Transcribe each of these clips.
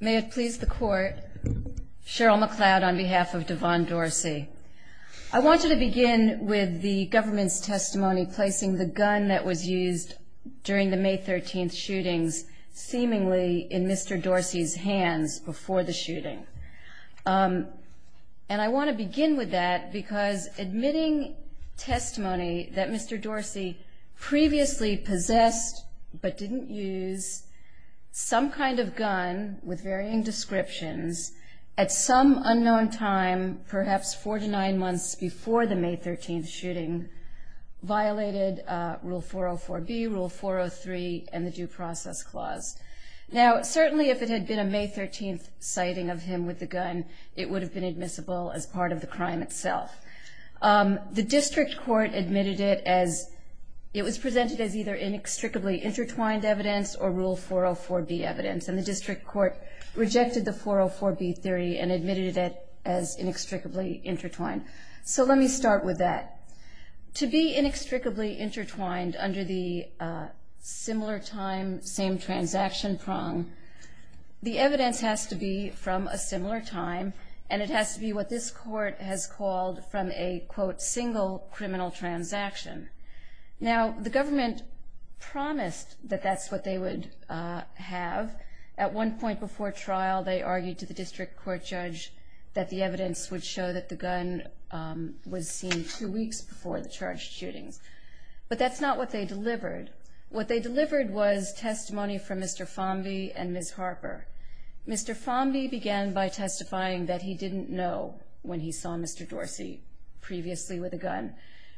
May it please the court. Cheryl McLeod on behalf of Devaughn Dorsey. I want you to begin with the government's testimony placing the gun that was used during the May 13th shootings seemingly in Mr. Dorsey's hands before the shooting. And I want to begin with that because admitting testimony that Mr. Dorsey previously possessed but didn't use some kind of gun with varying descriptions at some unknown time, perhaps four to nine months before the May 13th shooting, violated Rule 404B, Rule 403 and the Due Process Clause. Now certainly if it had been a May 13th sighting of him with the gun, it would have been admissible as part of the crime itself. The district court admitted it as it was presented as either inextricably intertwined evidence or Rule 404B evidence and the district court rejected the 404B theory and admitted it as inextricably intertwined. So let me start with that. To be inextricably intertwined under the similar time, same transaction prong, the evidence has to be from a similar time and it has to be what this court has called from a quote single criminal transaction. Now the government promised that that's what they would have. At one point before trial they argued to the district court judge that the evidence would show that the gun was seen two weeks before the charged shootings. But that's not what they delivered. What they delivered was testimony from Mr. Fomby and Ms. Harper. Mr. Fomby began by testifying that he didn't know when he saw Mr. Dorsey previously with a gun.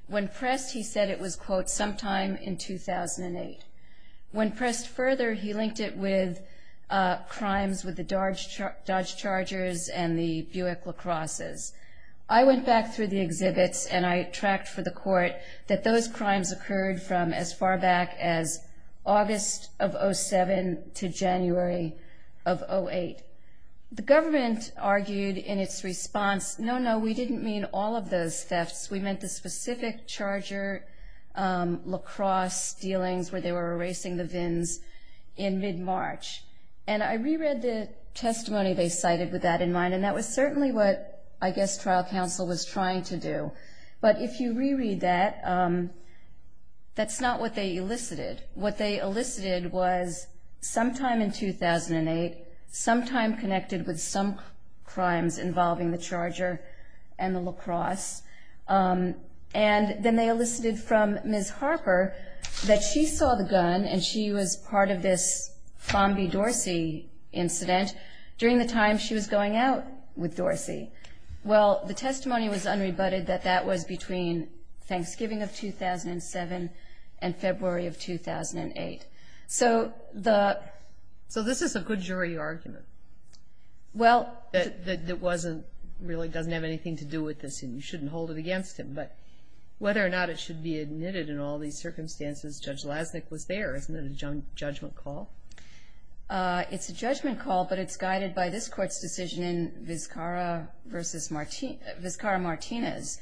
When pressed he said it was quote sometime in 2008. When pressed further he linked it with crimes with the Dodge Chargers and the Buick La Crosses. I went back through the exhibits and I tracked for the court that those crimes occurred from as far back as August of 07 to January of 08. The government argued in its response no, no, we didn't mean all of those thefts. We meant the specific charger, lacrosse dealings where they were erasing the vins in mid-March. And I reread the testimony they cited with that in mind and that was certainly what I guess trial counsel was trying to do. But if you reread that, that's not what they elicited. What they elicited was sometime in 2008, sometime connected with some crimes involving the charger and the lacrosse. And then they elicited from Ms. Harper that she saw the gun and she was part of this Fomby-Dorsey incident during the time she was going out with Dorsey. Well, the testimony was unrebutted that that was between Thanksgiving of 2007 and February of 2008. So this is a good jury argument that really doesn't have anything to do with this and you shouldn't hold it against him. But whether or not it should be admitted in all these circumstances, Judge Lasnik was there. Isn't it a judgment call? It's a judgment call, but it's guided by this court's decision in Vizcarra v. Martinez.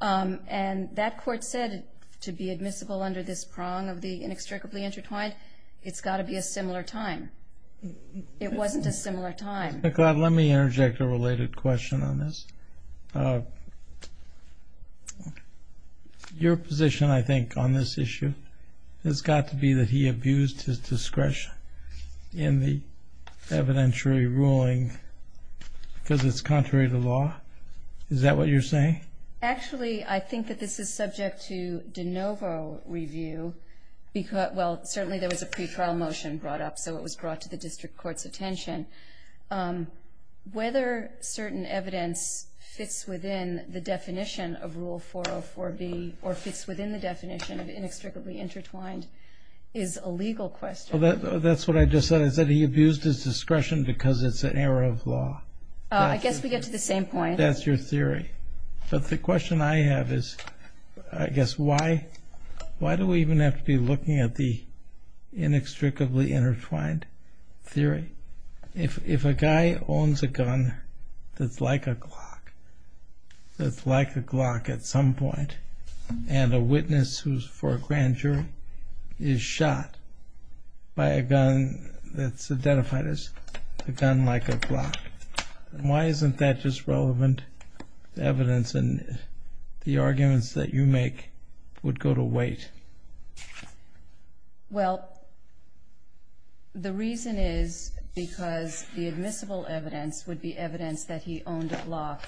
And that court said to be admissible under this prong of the inextricably intertwined, it's got to be a similar time. It wasn't a similar time. Let me interject a related question on this. Your position, I think, on this issue has got to be that he abused his discretion in the evidentiary ruling because it's contrary to law. Is that what you're saying? Actually, I think that this is subject to de novo review. Well, certainly there was a pre-trial motion brought up, so it was brought to the district court's attention. Whether certain evidence fits within the definition of Rule 404B or fits within the definition of inextricably intertwined is a legal question. That's what I just said. I said he abused his discretion because it's an error of law. I guess we get to the same point. That's your theory. But the question I have is, I guess, why do we even have to be looking at the inextricably intertwined theory? If a guy owns a gun that's like a Glock, that's like a Glock at some point, and a witness who's for a grand jury is shot by a gun that's identified as a gun like a Glock, why isn't that just relevant evidence? And the arguments that you make would go to wait. Well, the reason is because the admissible evidence would be evidence that he owned a Glock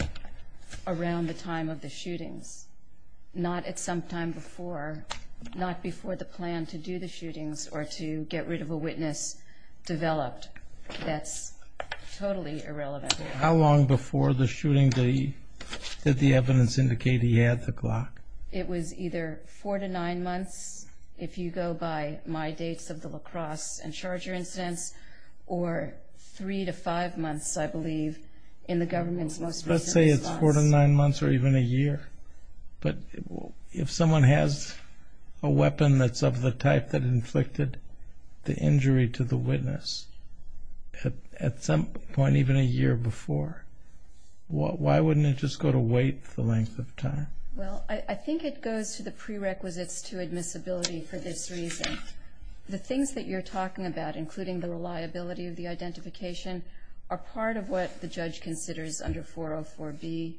around the time of the shootings, not at some time before, not before the plan to do the shootings or to get rid of a witness developed. That's totally irrelevant. How long before the shooting did the evidence indicate he had the Glock? It was either four to nine months, if you go by my dates of the lacrosse and charger incidents, or three to five months, I believe, in the government's most recent response. Let's say it's four to nine months or even a year. But if someone has a weapon that's of the type that inflicted the injury to the witness at some point even a year before, why wouldn't it just go to wait the length of time? Well, I think it goes to the prerequisites to admissibility for this reason. The things that you're talking about, including the reliability of the identification, are part of what the judge considers under 404B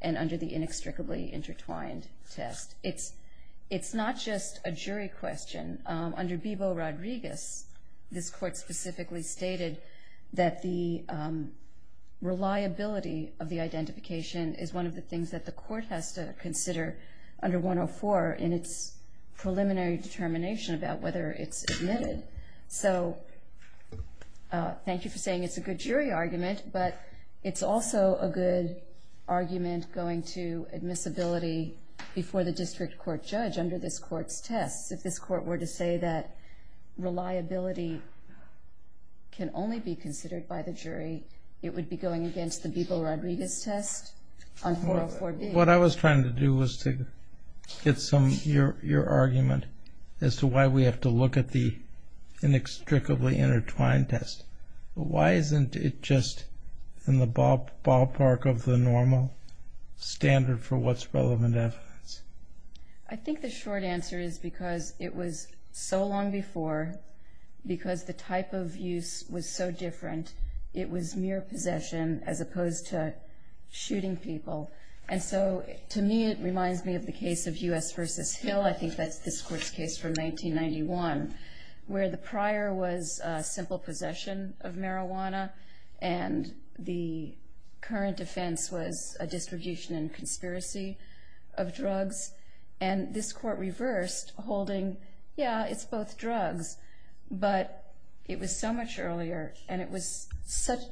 and under the inextricably intertwined test. It's not just a jury question. Under Bebo Rodriguez, this court specifically stated that the reliability of the identification is one of the things that the court has to consider under 104 in its preliminary determination about whether it's admitted. So, thank you for saying it's a good jury argument, but it's also a good argument going to admissibility before the district court judge under this court's test. If this court were to say that reliability can only be considered by the jury, it would be going against the Bebo Rodriguez test on 404B. What I was trying to do was to get some of your argument as to why we have to look at the inextricably intertwined test. Why isn't it just in the ballpark of the normal standard for what's relevant evidence? I think the short answer is because it was so long before, because the type of use was so different, it was mere possession as opposed to shooting people. And so, to me, it reminds me of the case of U.S. v. Hill. I think that's this court's case from 1991, where the prior was simple possession of marijuana and the current defense was a distribution and conspiracy of drugs. And this court reversed, holding, yeah, it's both drugs, but it was so much earlier and it was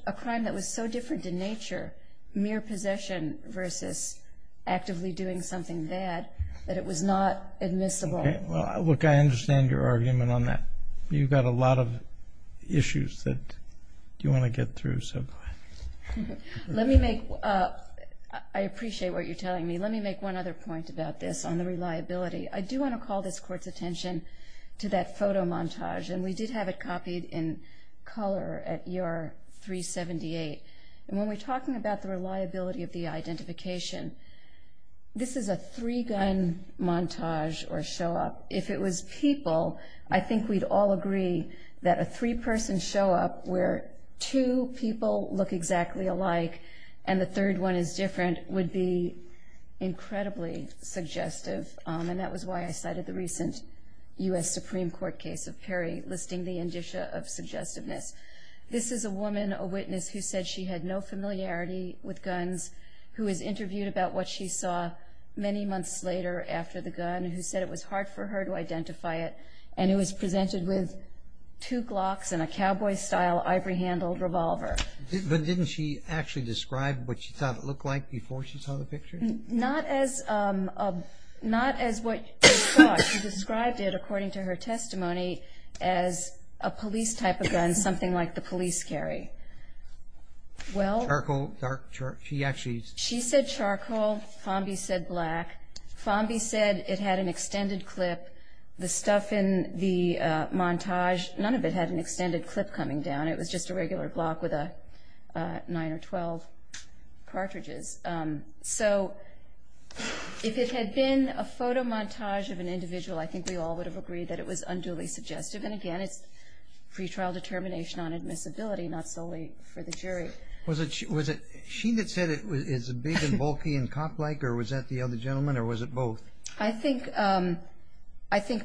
a crime that was so different in nature, mere possession versus actively doing something bad, that it was not admissible. Well, look, I understand your argument on that. You've got a lot of issues that you want to get through, so go ahead. Let me make, I appreciate what you're telling me. Let me make one other point about this on the reliability. I do want to call this court's attention to that photo montage, and we did have it copied in color at E.R. 378. And when we're talking about the reliability of the identification, this is a three-gun montage or show-up. If it was people, I think we'd all agree that a three-person show-up where two people look exactly alike and the third one is different would be incredibly suggestive. And that was why I cited the recent U.S. Supreme Court case of Perry listing the indicia of suggestiveness. This is a woman, a witness, who said she had no familiarity with guns, who was interviewed about what she saw many months later after the gun, who said it was hard for her to identify it, and it was presented with two glocks and a cowboy-style ivory-handled revolver. But didn't she actually describe what she thought it looked like before she saw the picture? Not as what she thought. She described it, according to her testimony, as a police type of gun, something like the police carry. Charcoal? She said charcoal. Fomby said black. Fomby said it had an extended clip. The stuff in the montage, none of it had an extended clip coming down. It was just a regular block with nine or 12 cartridges. So if it had been a photo montage of an individual, I think we all would have agreed that it was unduly suggestive. And again, it's pretrial determination on admissibility, not solely for the jury. Was it she that said it was big and bulky and cop-like, or was that the other gentleman, or was it both? I think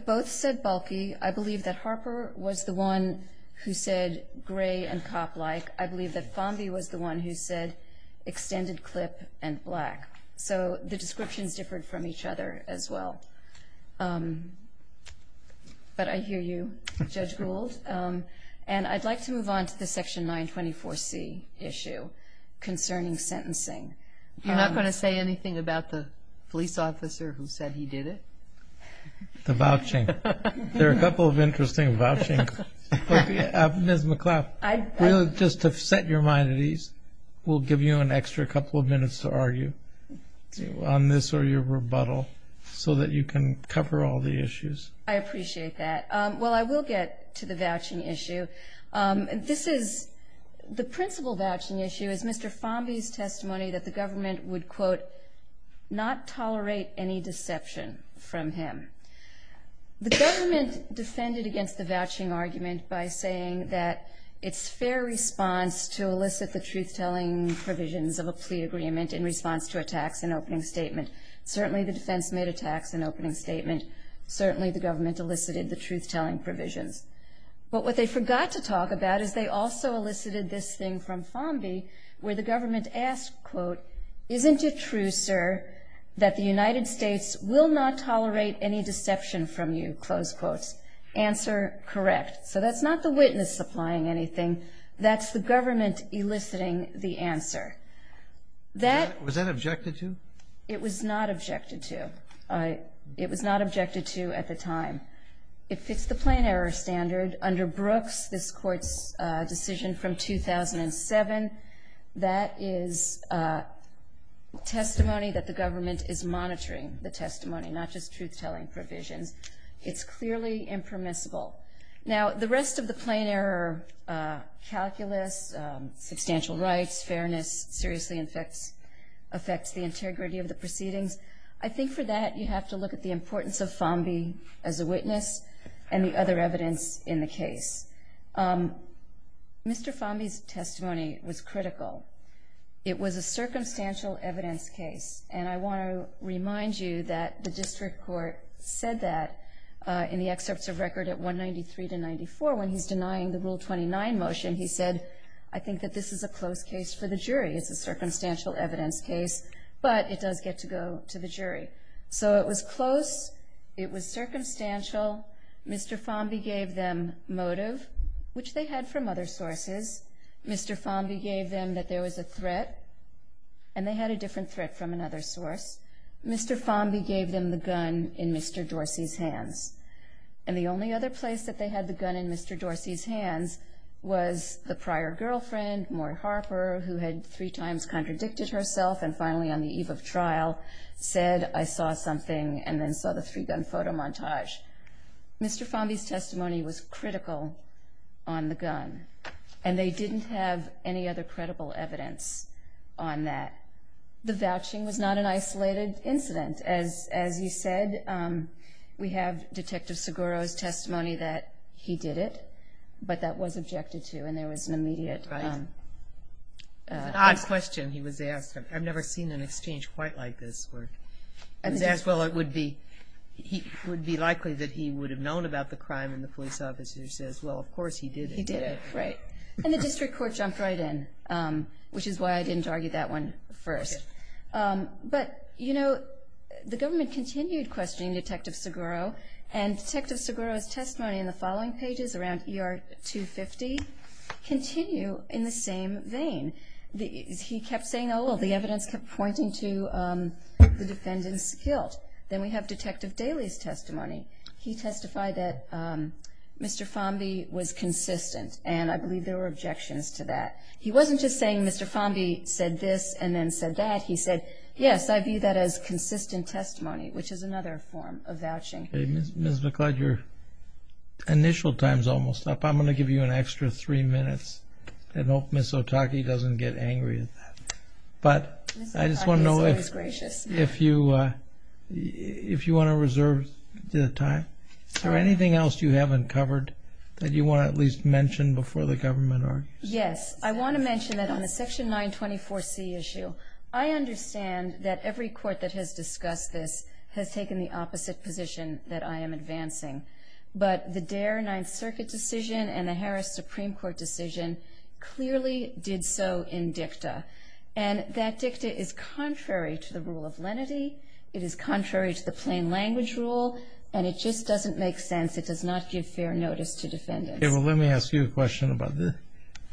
both said bulky. I believe that Harper was the one who said gray and cop-like. I believe that Fomby was the one who said extended clip and black. So the descriptions differed from each other as well. But I hear you, Judge Gould. And I'd like to move on to the Section 924C issue concerning sentencing. You're not going to say anything about the police officer who said he did it? The vouching. There are a couple of interesting vouchings. Ms. McLeod, just to set your mind at ease, we'll give you an extra couple of minutes to argue on this or your rebuttal so that you can cover all the issues. I appreciate that. Well, I will get to the vouching issue. The principal vouching issue is Mr. Fomby's testimony that the government would, quote, not tolerate any deception from him. The government defended against the vouching argument by saying that it's fair response to elicit the truth-telling provisions of a plea agreement in response to a tax and opening statement. Certainly the defense made a tax and opening statement. Certainly the government elicited the truth-telling provisions. But what they forgot to talk about is they also elicited this thing from Fomby where the government asked, quote, isn't it true, sir, that the United States will not tolerate any deception from you, close quotes. Answer, correct. So that's not the witness supplying anything. That's the government eliciting the answer. Was that objected to? It was not objected to. It was not objected to at the time. It fits the plain error standard. Under Brooks, this court's decision from 2007, that is testimony that the government is monitoring the testimony, not just truth-telling provisions. It's clearly impermissible. Now, the rest of the plain error calculus, substantial rights, fairness, seriously affects the integrity of the proceedings. I think for that you have to look at the importance of Fomby as a witness and the other evidence in the case. Mr. Fomby's testimony was critical. It was a circumstantial evidence case. And I want to remind you that the district court said that in the excerpts of record at 193 to 94. When he's denying the Rule 29 motion, he said, I think that this is a close case for the jury. It's a circumstantial evidence case, but it does get to go to the jury. So it was close. It was circumstantial. Mr. Fomby gave them motive, which they had from other sources. Mr. Fomby gave them that there was a threat, and they had a different threat from another source. Mr. Fomby gave them the gun in Mr. Dorsey's hands. And the only other place that they had the gun in Mr. Dorsey's hands was the prior girlfriend, Maura Harper, who had three times contradicted herself, and finally on the eve of trial said, I saw something and then saw the three-gun photo montage. Mr. Fomby's testimony was critical on the gun, and they didn't have any other credible evidence on that. The vouching was not an isolated incident. As you said, we have Detective Seguro's testimony that he did it, but that was objected to, and there was an immediate... It's an odd question he was asked. I've never seen an exchange quite like this. He was asked, well, it would be likely that he would have known about the crime, and the police officer says, well, of course he did it. He did it, right. And the district court jumped right in, which is why I didn't argue that one first. But, you know, the government continued questioning Detective Seguro, and Detective Seguro's testimony in the following pages around ER 250 continue in the same vein. He kept saying, oh, well, the evidence kept pointing to the defendant's guilt. Then we have Detective Daley's testimony. He testified that Mr. Fomby was consistent, and I believe there were objections to that. He wasn't just saying Mr. Fomby said this and then said that. He said, yes, I view that as consistent testimony, which is another form of vouching. Ms. McLeod, your initial time's almost up. I'm going to give you an extra three minutes and hope Ms. Otake doesn't get angry at that. But I just want to know if you want to reserve the time. Is there anything else you haven't covered that you want to at least mention before the government argues? Yes, I want to mention that on the Section 924C issue, I understand that every court that has discussed this has taken the opposite position that I am advancing. But the Dare Ninth Circuit decision and the Harris Supreme Court decision clearly did so in dicta. And that dicta is contrary to the rule of lenity. It is contrary to the plain language rule, and it just doesn't make sense. It does not give fair notice to defendants. Okay, well, let me ask you a question about this.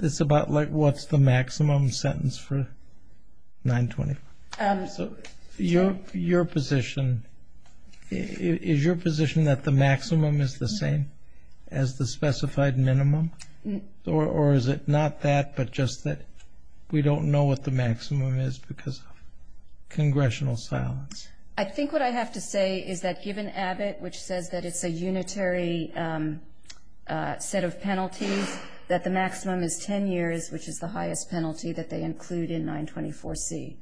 It's about like what's the maximum sentence for 924. So your position, is your position that the maximum is the same as the specified minimum? Or is it not that, but just that we don't know what the maximum is because of congressional silence? I think what I have to say is that given Abbott, which says that it's a unitary set of penalties, that the maximum is 10 years, which is the highest penalty that they include in 924C.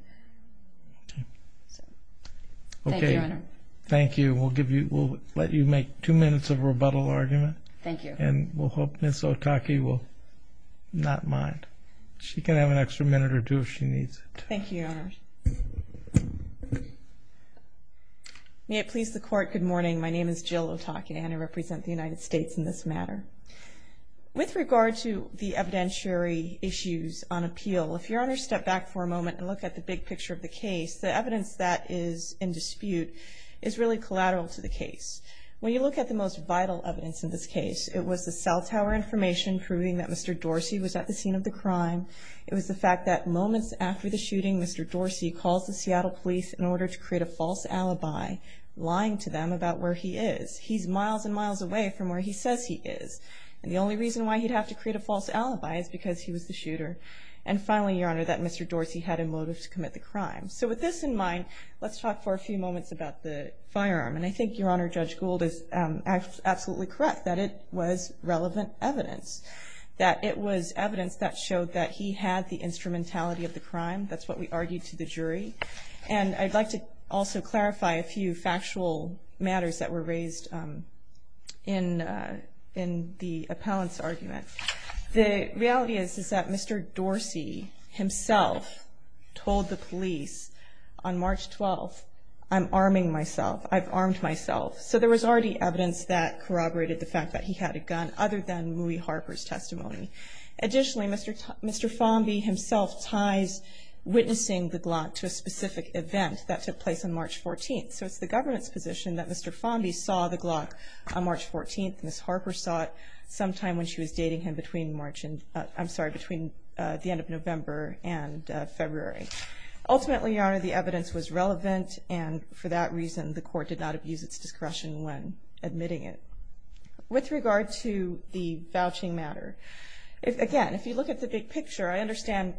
Thank you, Your Honor. Thank you. We'll let you make two minutes of rebuttal argument. Thank you. And we'll hope Ms. Otake will not mind. She can have an extra minute or two if she needs it. Thank you, Your Honor. May it please the Court, good morning. My name is Jill Otake, and I represent the United States in this matter. With regard to the evidentiary issues on appeal, if Your Honor stepped back for a moment and looked at the big picture of the case, the evidence that is in dispute is really collateral to the case. When you look at the most vital evidence in this case, it was the cell tower information proving that Mr. Dorsey was at the scene of the crime. It was the fact that moments after the shooting, Mr. Dorsey calls the Seattle police in order to create a false alibi, lying to them about where he is. He's miles and miles away from where he says he is. And the only reason why he'd have to create a false alibi is because he was the shooter. And finally, Your Honor, that Mr. Dorsey had a motive to commit the crime. So with this in mind, let's talk for a few moments about the firearm. And I think, Your Honor, Judge Gould is absolutely correct that it was relevant evidence, that it was evidence that showed that he had the instrumentality of the crime. That's what we argued to the jury. And I'd like to also clarify a few factual matters that were raised in the appellant's argument. The reality is that Mr. Dorsey himself told the police on March 12th, I'm arming myself, I've armed myself. So there was already evidence that corroborated the fact that he had a gun, other than Louie Harper's testimony. Additionally, Mr. Fonby himself ties witnessing the Glock to a specific event that took place on March 14th. So it's the government's position that Mr. Fonby saw the Glock on March 14th, and Ms. Harper saw it sometime when she was dating him between the end of November and February. Ultimately, Your Honor, the evidence was relevant, and for that reason the court did not abuse its discretion when admitting it. With regard to the vouching matter, again, if you look at the big picture, I understand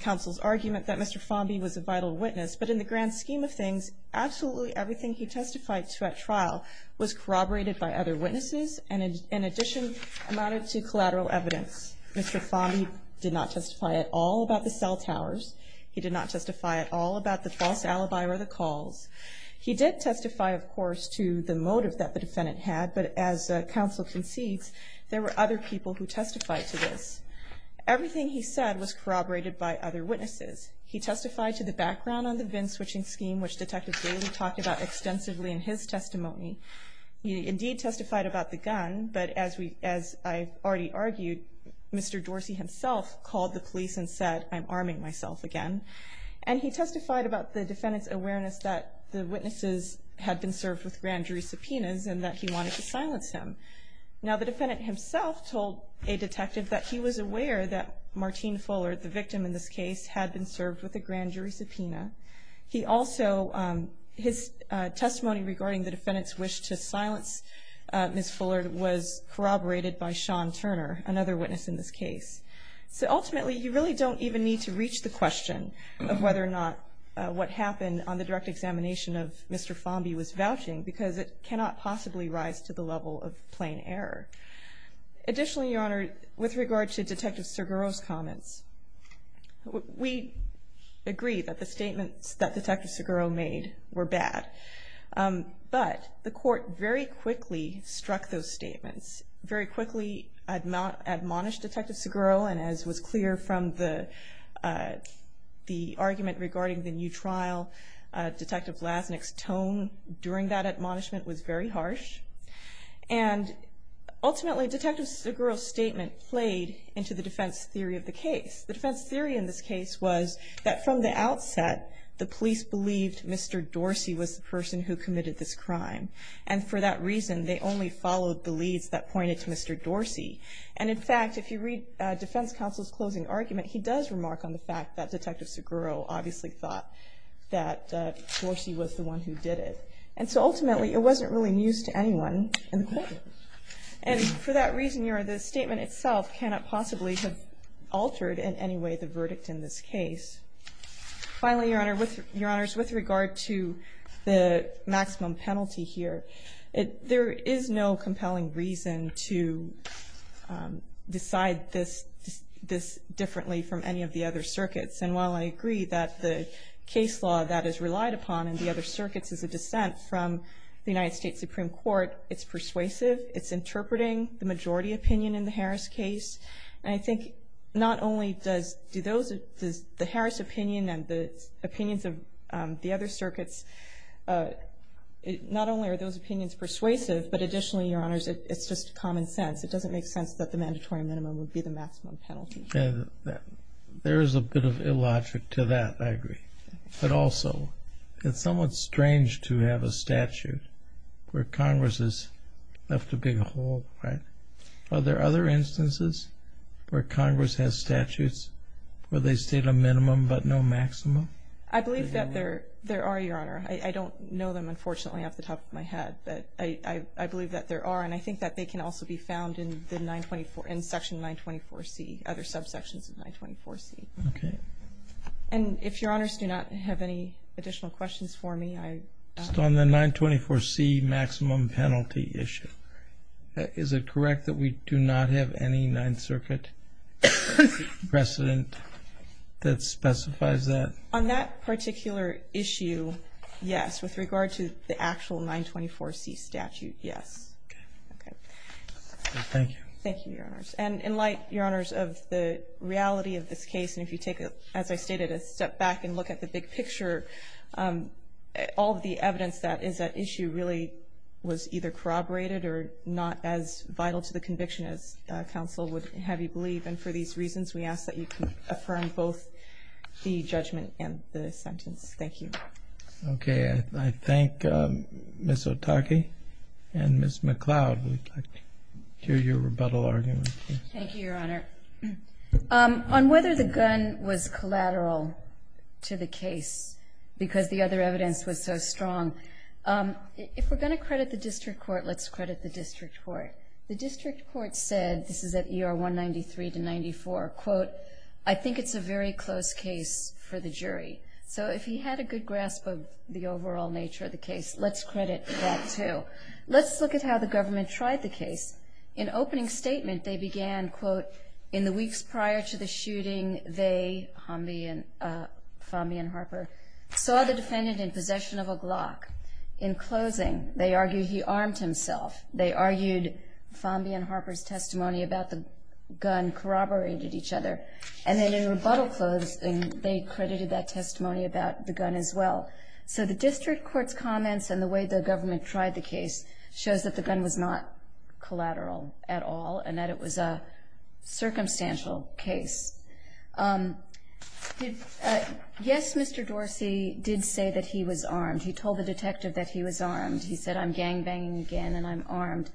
counsel's argument that Mr. Fonby was a vital witness. But in the grand scheme of things, absolutely everything he testified to at trial was corroborated by other witnesses, and in addition amounted to collateral evidence. Mr. Fonby did not testify at all about the cell towers. He did not testify at all about the false alibi or the calls. He did testify, of course, to the motive that the defendant had, but as counsel concedes, there were other people who testified to this. Everything he said was corroborated by other witnesses. He testified to the background on the VIN switching scheme, which Detective Daly talked about extensively in his testimony. He indeed testified about the gun, but as I already argued, Mr. Dorsey himself called the police and said, I'm arming myself again. And he testified about the defendant's awareness that the witnesses had been served with grand jury subpoenas and that he wanted to silence him. Now the defendant himself told a detective that he was aware that Martine Fullard, the victim in this case, had been served with a grand jury subpoena. He also, his testimony regarding the defendant's wish to silence Ms. Fullard was corroborated by Sean Turner, another witness in this case. So ultimately, you really don't even need to reach the question of whether or not what happened on the direct examination of Mr. Fomby was vouching because it cannot possibly rise to the level of plain error. Additionally, Your Honor, with regard to Detective Seguro's comments, we agree that the statements that Detective Seguro made were bad, but the court very quickly struck those statements, very quickly admonished Detective Seguro, and as was clear from the argument regarding the new trial, Detective Lasnik's tone during that admonishment was very harsh. And ultimately, Detective Seguro's statement played into the defense theory of the case. The defense theory in this case was that from the outset, the police believed Mr. Dorsey was the person who committed this crime. And for that reason, they only followed the leads that pointed to Mr. Dorsey. And in fact, if you read defense counsel's closing argument, he does remark on the fact that Detective Seguro obviously thought that Dorsey was the one who did it. And so ultimately, it wasn't really news to anyone in the courtroom. And for that reason, Your Honor, the statement itself cannot possibly have altered in any way the verdict in this case. Finally, Your Honor, with regard to the maximum penalty here, there is no compelling reason to decide this differently from any of the other circuits. And while I agree that the case law that is relied upon in the other circuits is a dissent from the United States Supreme Court, it's persuasive, it's interpreting the majority opinion in the Harris case. And I think not only does the Harris opinion and the opinions of the other circuits, not only are those opinions persuasive, but additionally, Your Honors, it's just common sense. It doesn't make sense that the mandatory minimum would be the maximum penalty. And there is a bit of illogic to that, I agree. But also, it's somewhat strange to have a statute where Congress has left a big hole, right? Are there other instances where Congress has statutes where they state a minimum but no maximum? I believe that there are, Your Honor. I don't know them, unfortunately, off the top of my head. But I believe that there are, and I think that they can also be found in Section 924C, other subsections of 924C. Okay. And if Your Honors do not have any additional questions for me, I... Just on the 924C maximum penalty issue, is it correct that we do not have any Ninth Circuit precedent that specifies that? On that particular issue, yes, with regard to the actual 924C statute, yes. Okay. Okay. Thank you. Thank you, Your Honors. And in light, Your Honors, of the reality of this case, and if you take, as I stated, a step back and look at the big picture, all of the evidence that is at issue really was either corroborated or not as vital to the conviction as counsel would have you believe. And for these reasons, we ask that you can affirm both the judgment and the sentence. Thank you. Okay. I thank Ms. Otake and Ms. McLeod. I hear your rebuttal argument. Thank you, Your Honor. On whether the gun was collateral to the case because the other evidence was so strong, if we're going to credit the district court, let's credit the district court. The district court said, this is at ER 193 to 94, quote, I think it's a very close case for the jury. So if he had a good grasp of the overall nature of the case, let's credit that too. Let's look at how the government tried the case. In opening statement, they began, quote, in the weeks prior to the shooting, they, Fomby and Harper, saw the defendant in possession of a Glock. In closing, they argued he armed himself. They argued Fomby and Harper's testimony about the gun corroborated each other. And then in rebuttal closing, they credited that testimony about the gun as well. So the district court's comments and the way the government tried the case shows that the gun was not collateral at all and that it was a circumstantial case. Yes, Mr. Dorsey did say that he was armed. He told the detective that he was armed. He said, I'm gangbanging again and I'm armed.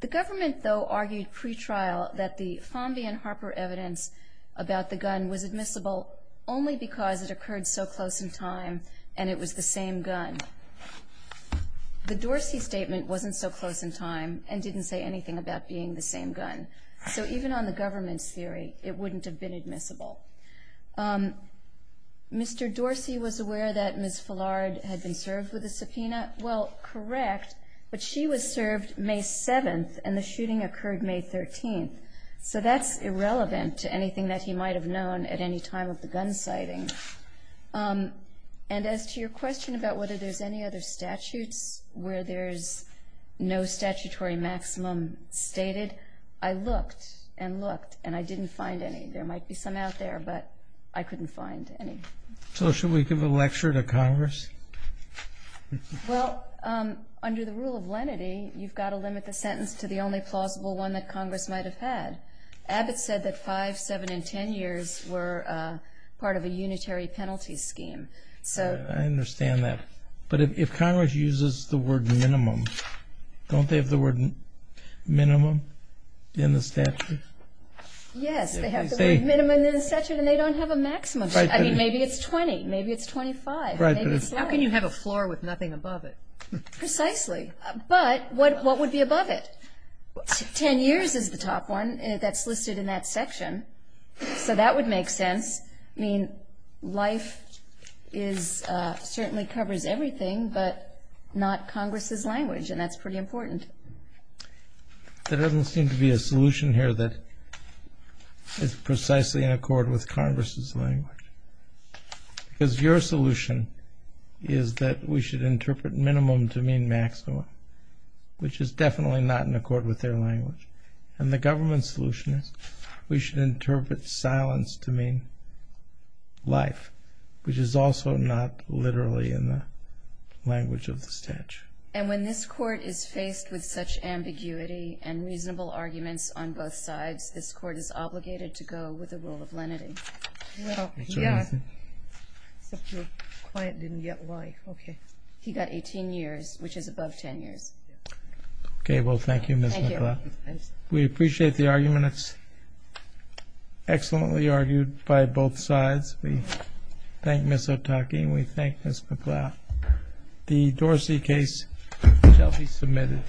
The government, though, argued pretrial that the Fomby and Harper evidence about the gun was admissible only because it occurred so close in time and it was the same gun. The Dorsey statement wasn't so close in time and didn't say anything about being the same gun. So even on the government's theory, it wouldn't have been admissible. Mr. Dorsey was aware that Ms. Fullard had been served with a subpoena. Well, correct, but she was served May 7th and the shooting occurred May 13th. So that's irrelevant to anything that he might have known at any time of the gun sighting. And as to your question about whether there's any other statutes where there's no statutory maximum stated, I looked and looked and I didn't find any. There might be some out there, but I couldn't find any. So should we give a lecture to Congress? Well, under the rule of lenity, you've got to limit the sentence to the only plausible one that Congress might have had. Abbott said that five, seven, and ten years were part of a unitary penalty scheme. I understand that, but if Congress uses the word minimum, don't they have the word minimum in the statute? Yes, they have the word minimum in the statute and they don't have a maximum. I mean, maybe it's 20, maybe it's 25. How can you have a floor with nothing above it? Precisely, but what would be above it? Ten years is the top one that's listed in that section, so that would make sense. I mean, life certainly covers everything but not Congress's language, and that's pretty important. There doesn't seem to be a solution here that is precisely in accord with Congress's language. Because your solution is that we should interpret minimum to mean maximum, which is definitely not in accord with their language. And the government's solution is we should interpret silence to mean life, which is also not literally in the language of the statute. And when this Court is faced with such ambiguity and reasonable arguments on both sides, this Court is obligated to go with the rule of lenity. Well, yeah, except your client didn't get why. Okay. He got 18 years, which is above ten years. Okay. Well, thank you, Ms. McLeod. Thank you. We appreciate the argument. It's excellently argued by both sides. We thank Ms. Otake and we thank Ms. McLeod. The Dorsey case shall be submitted.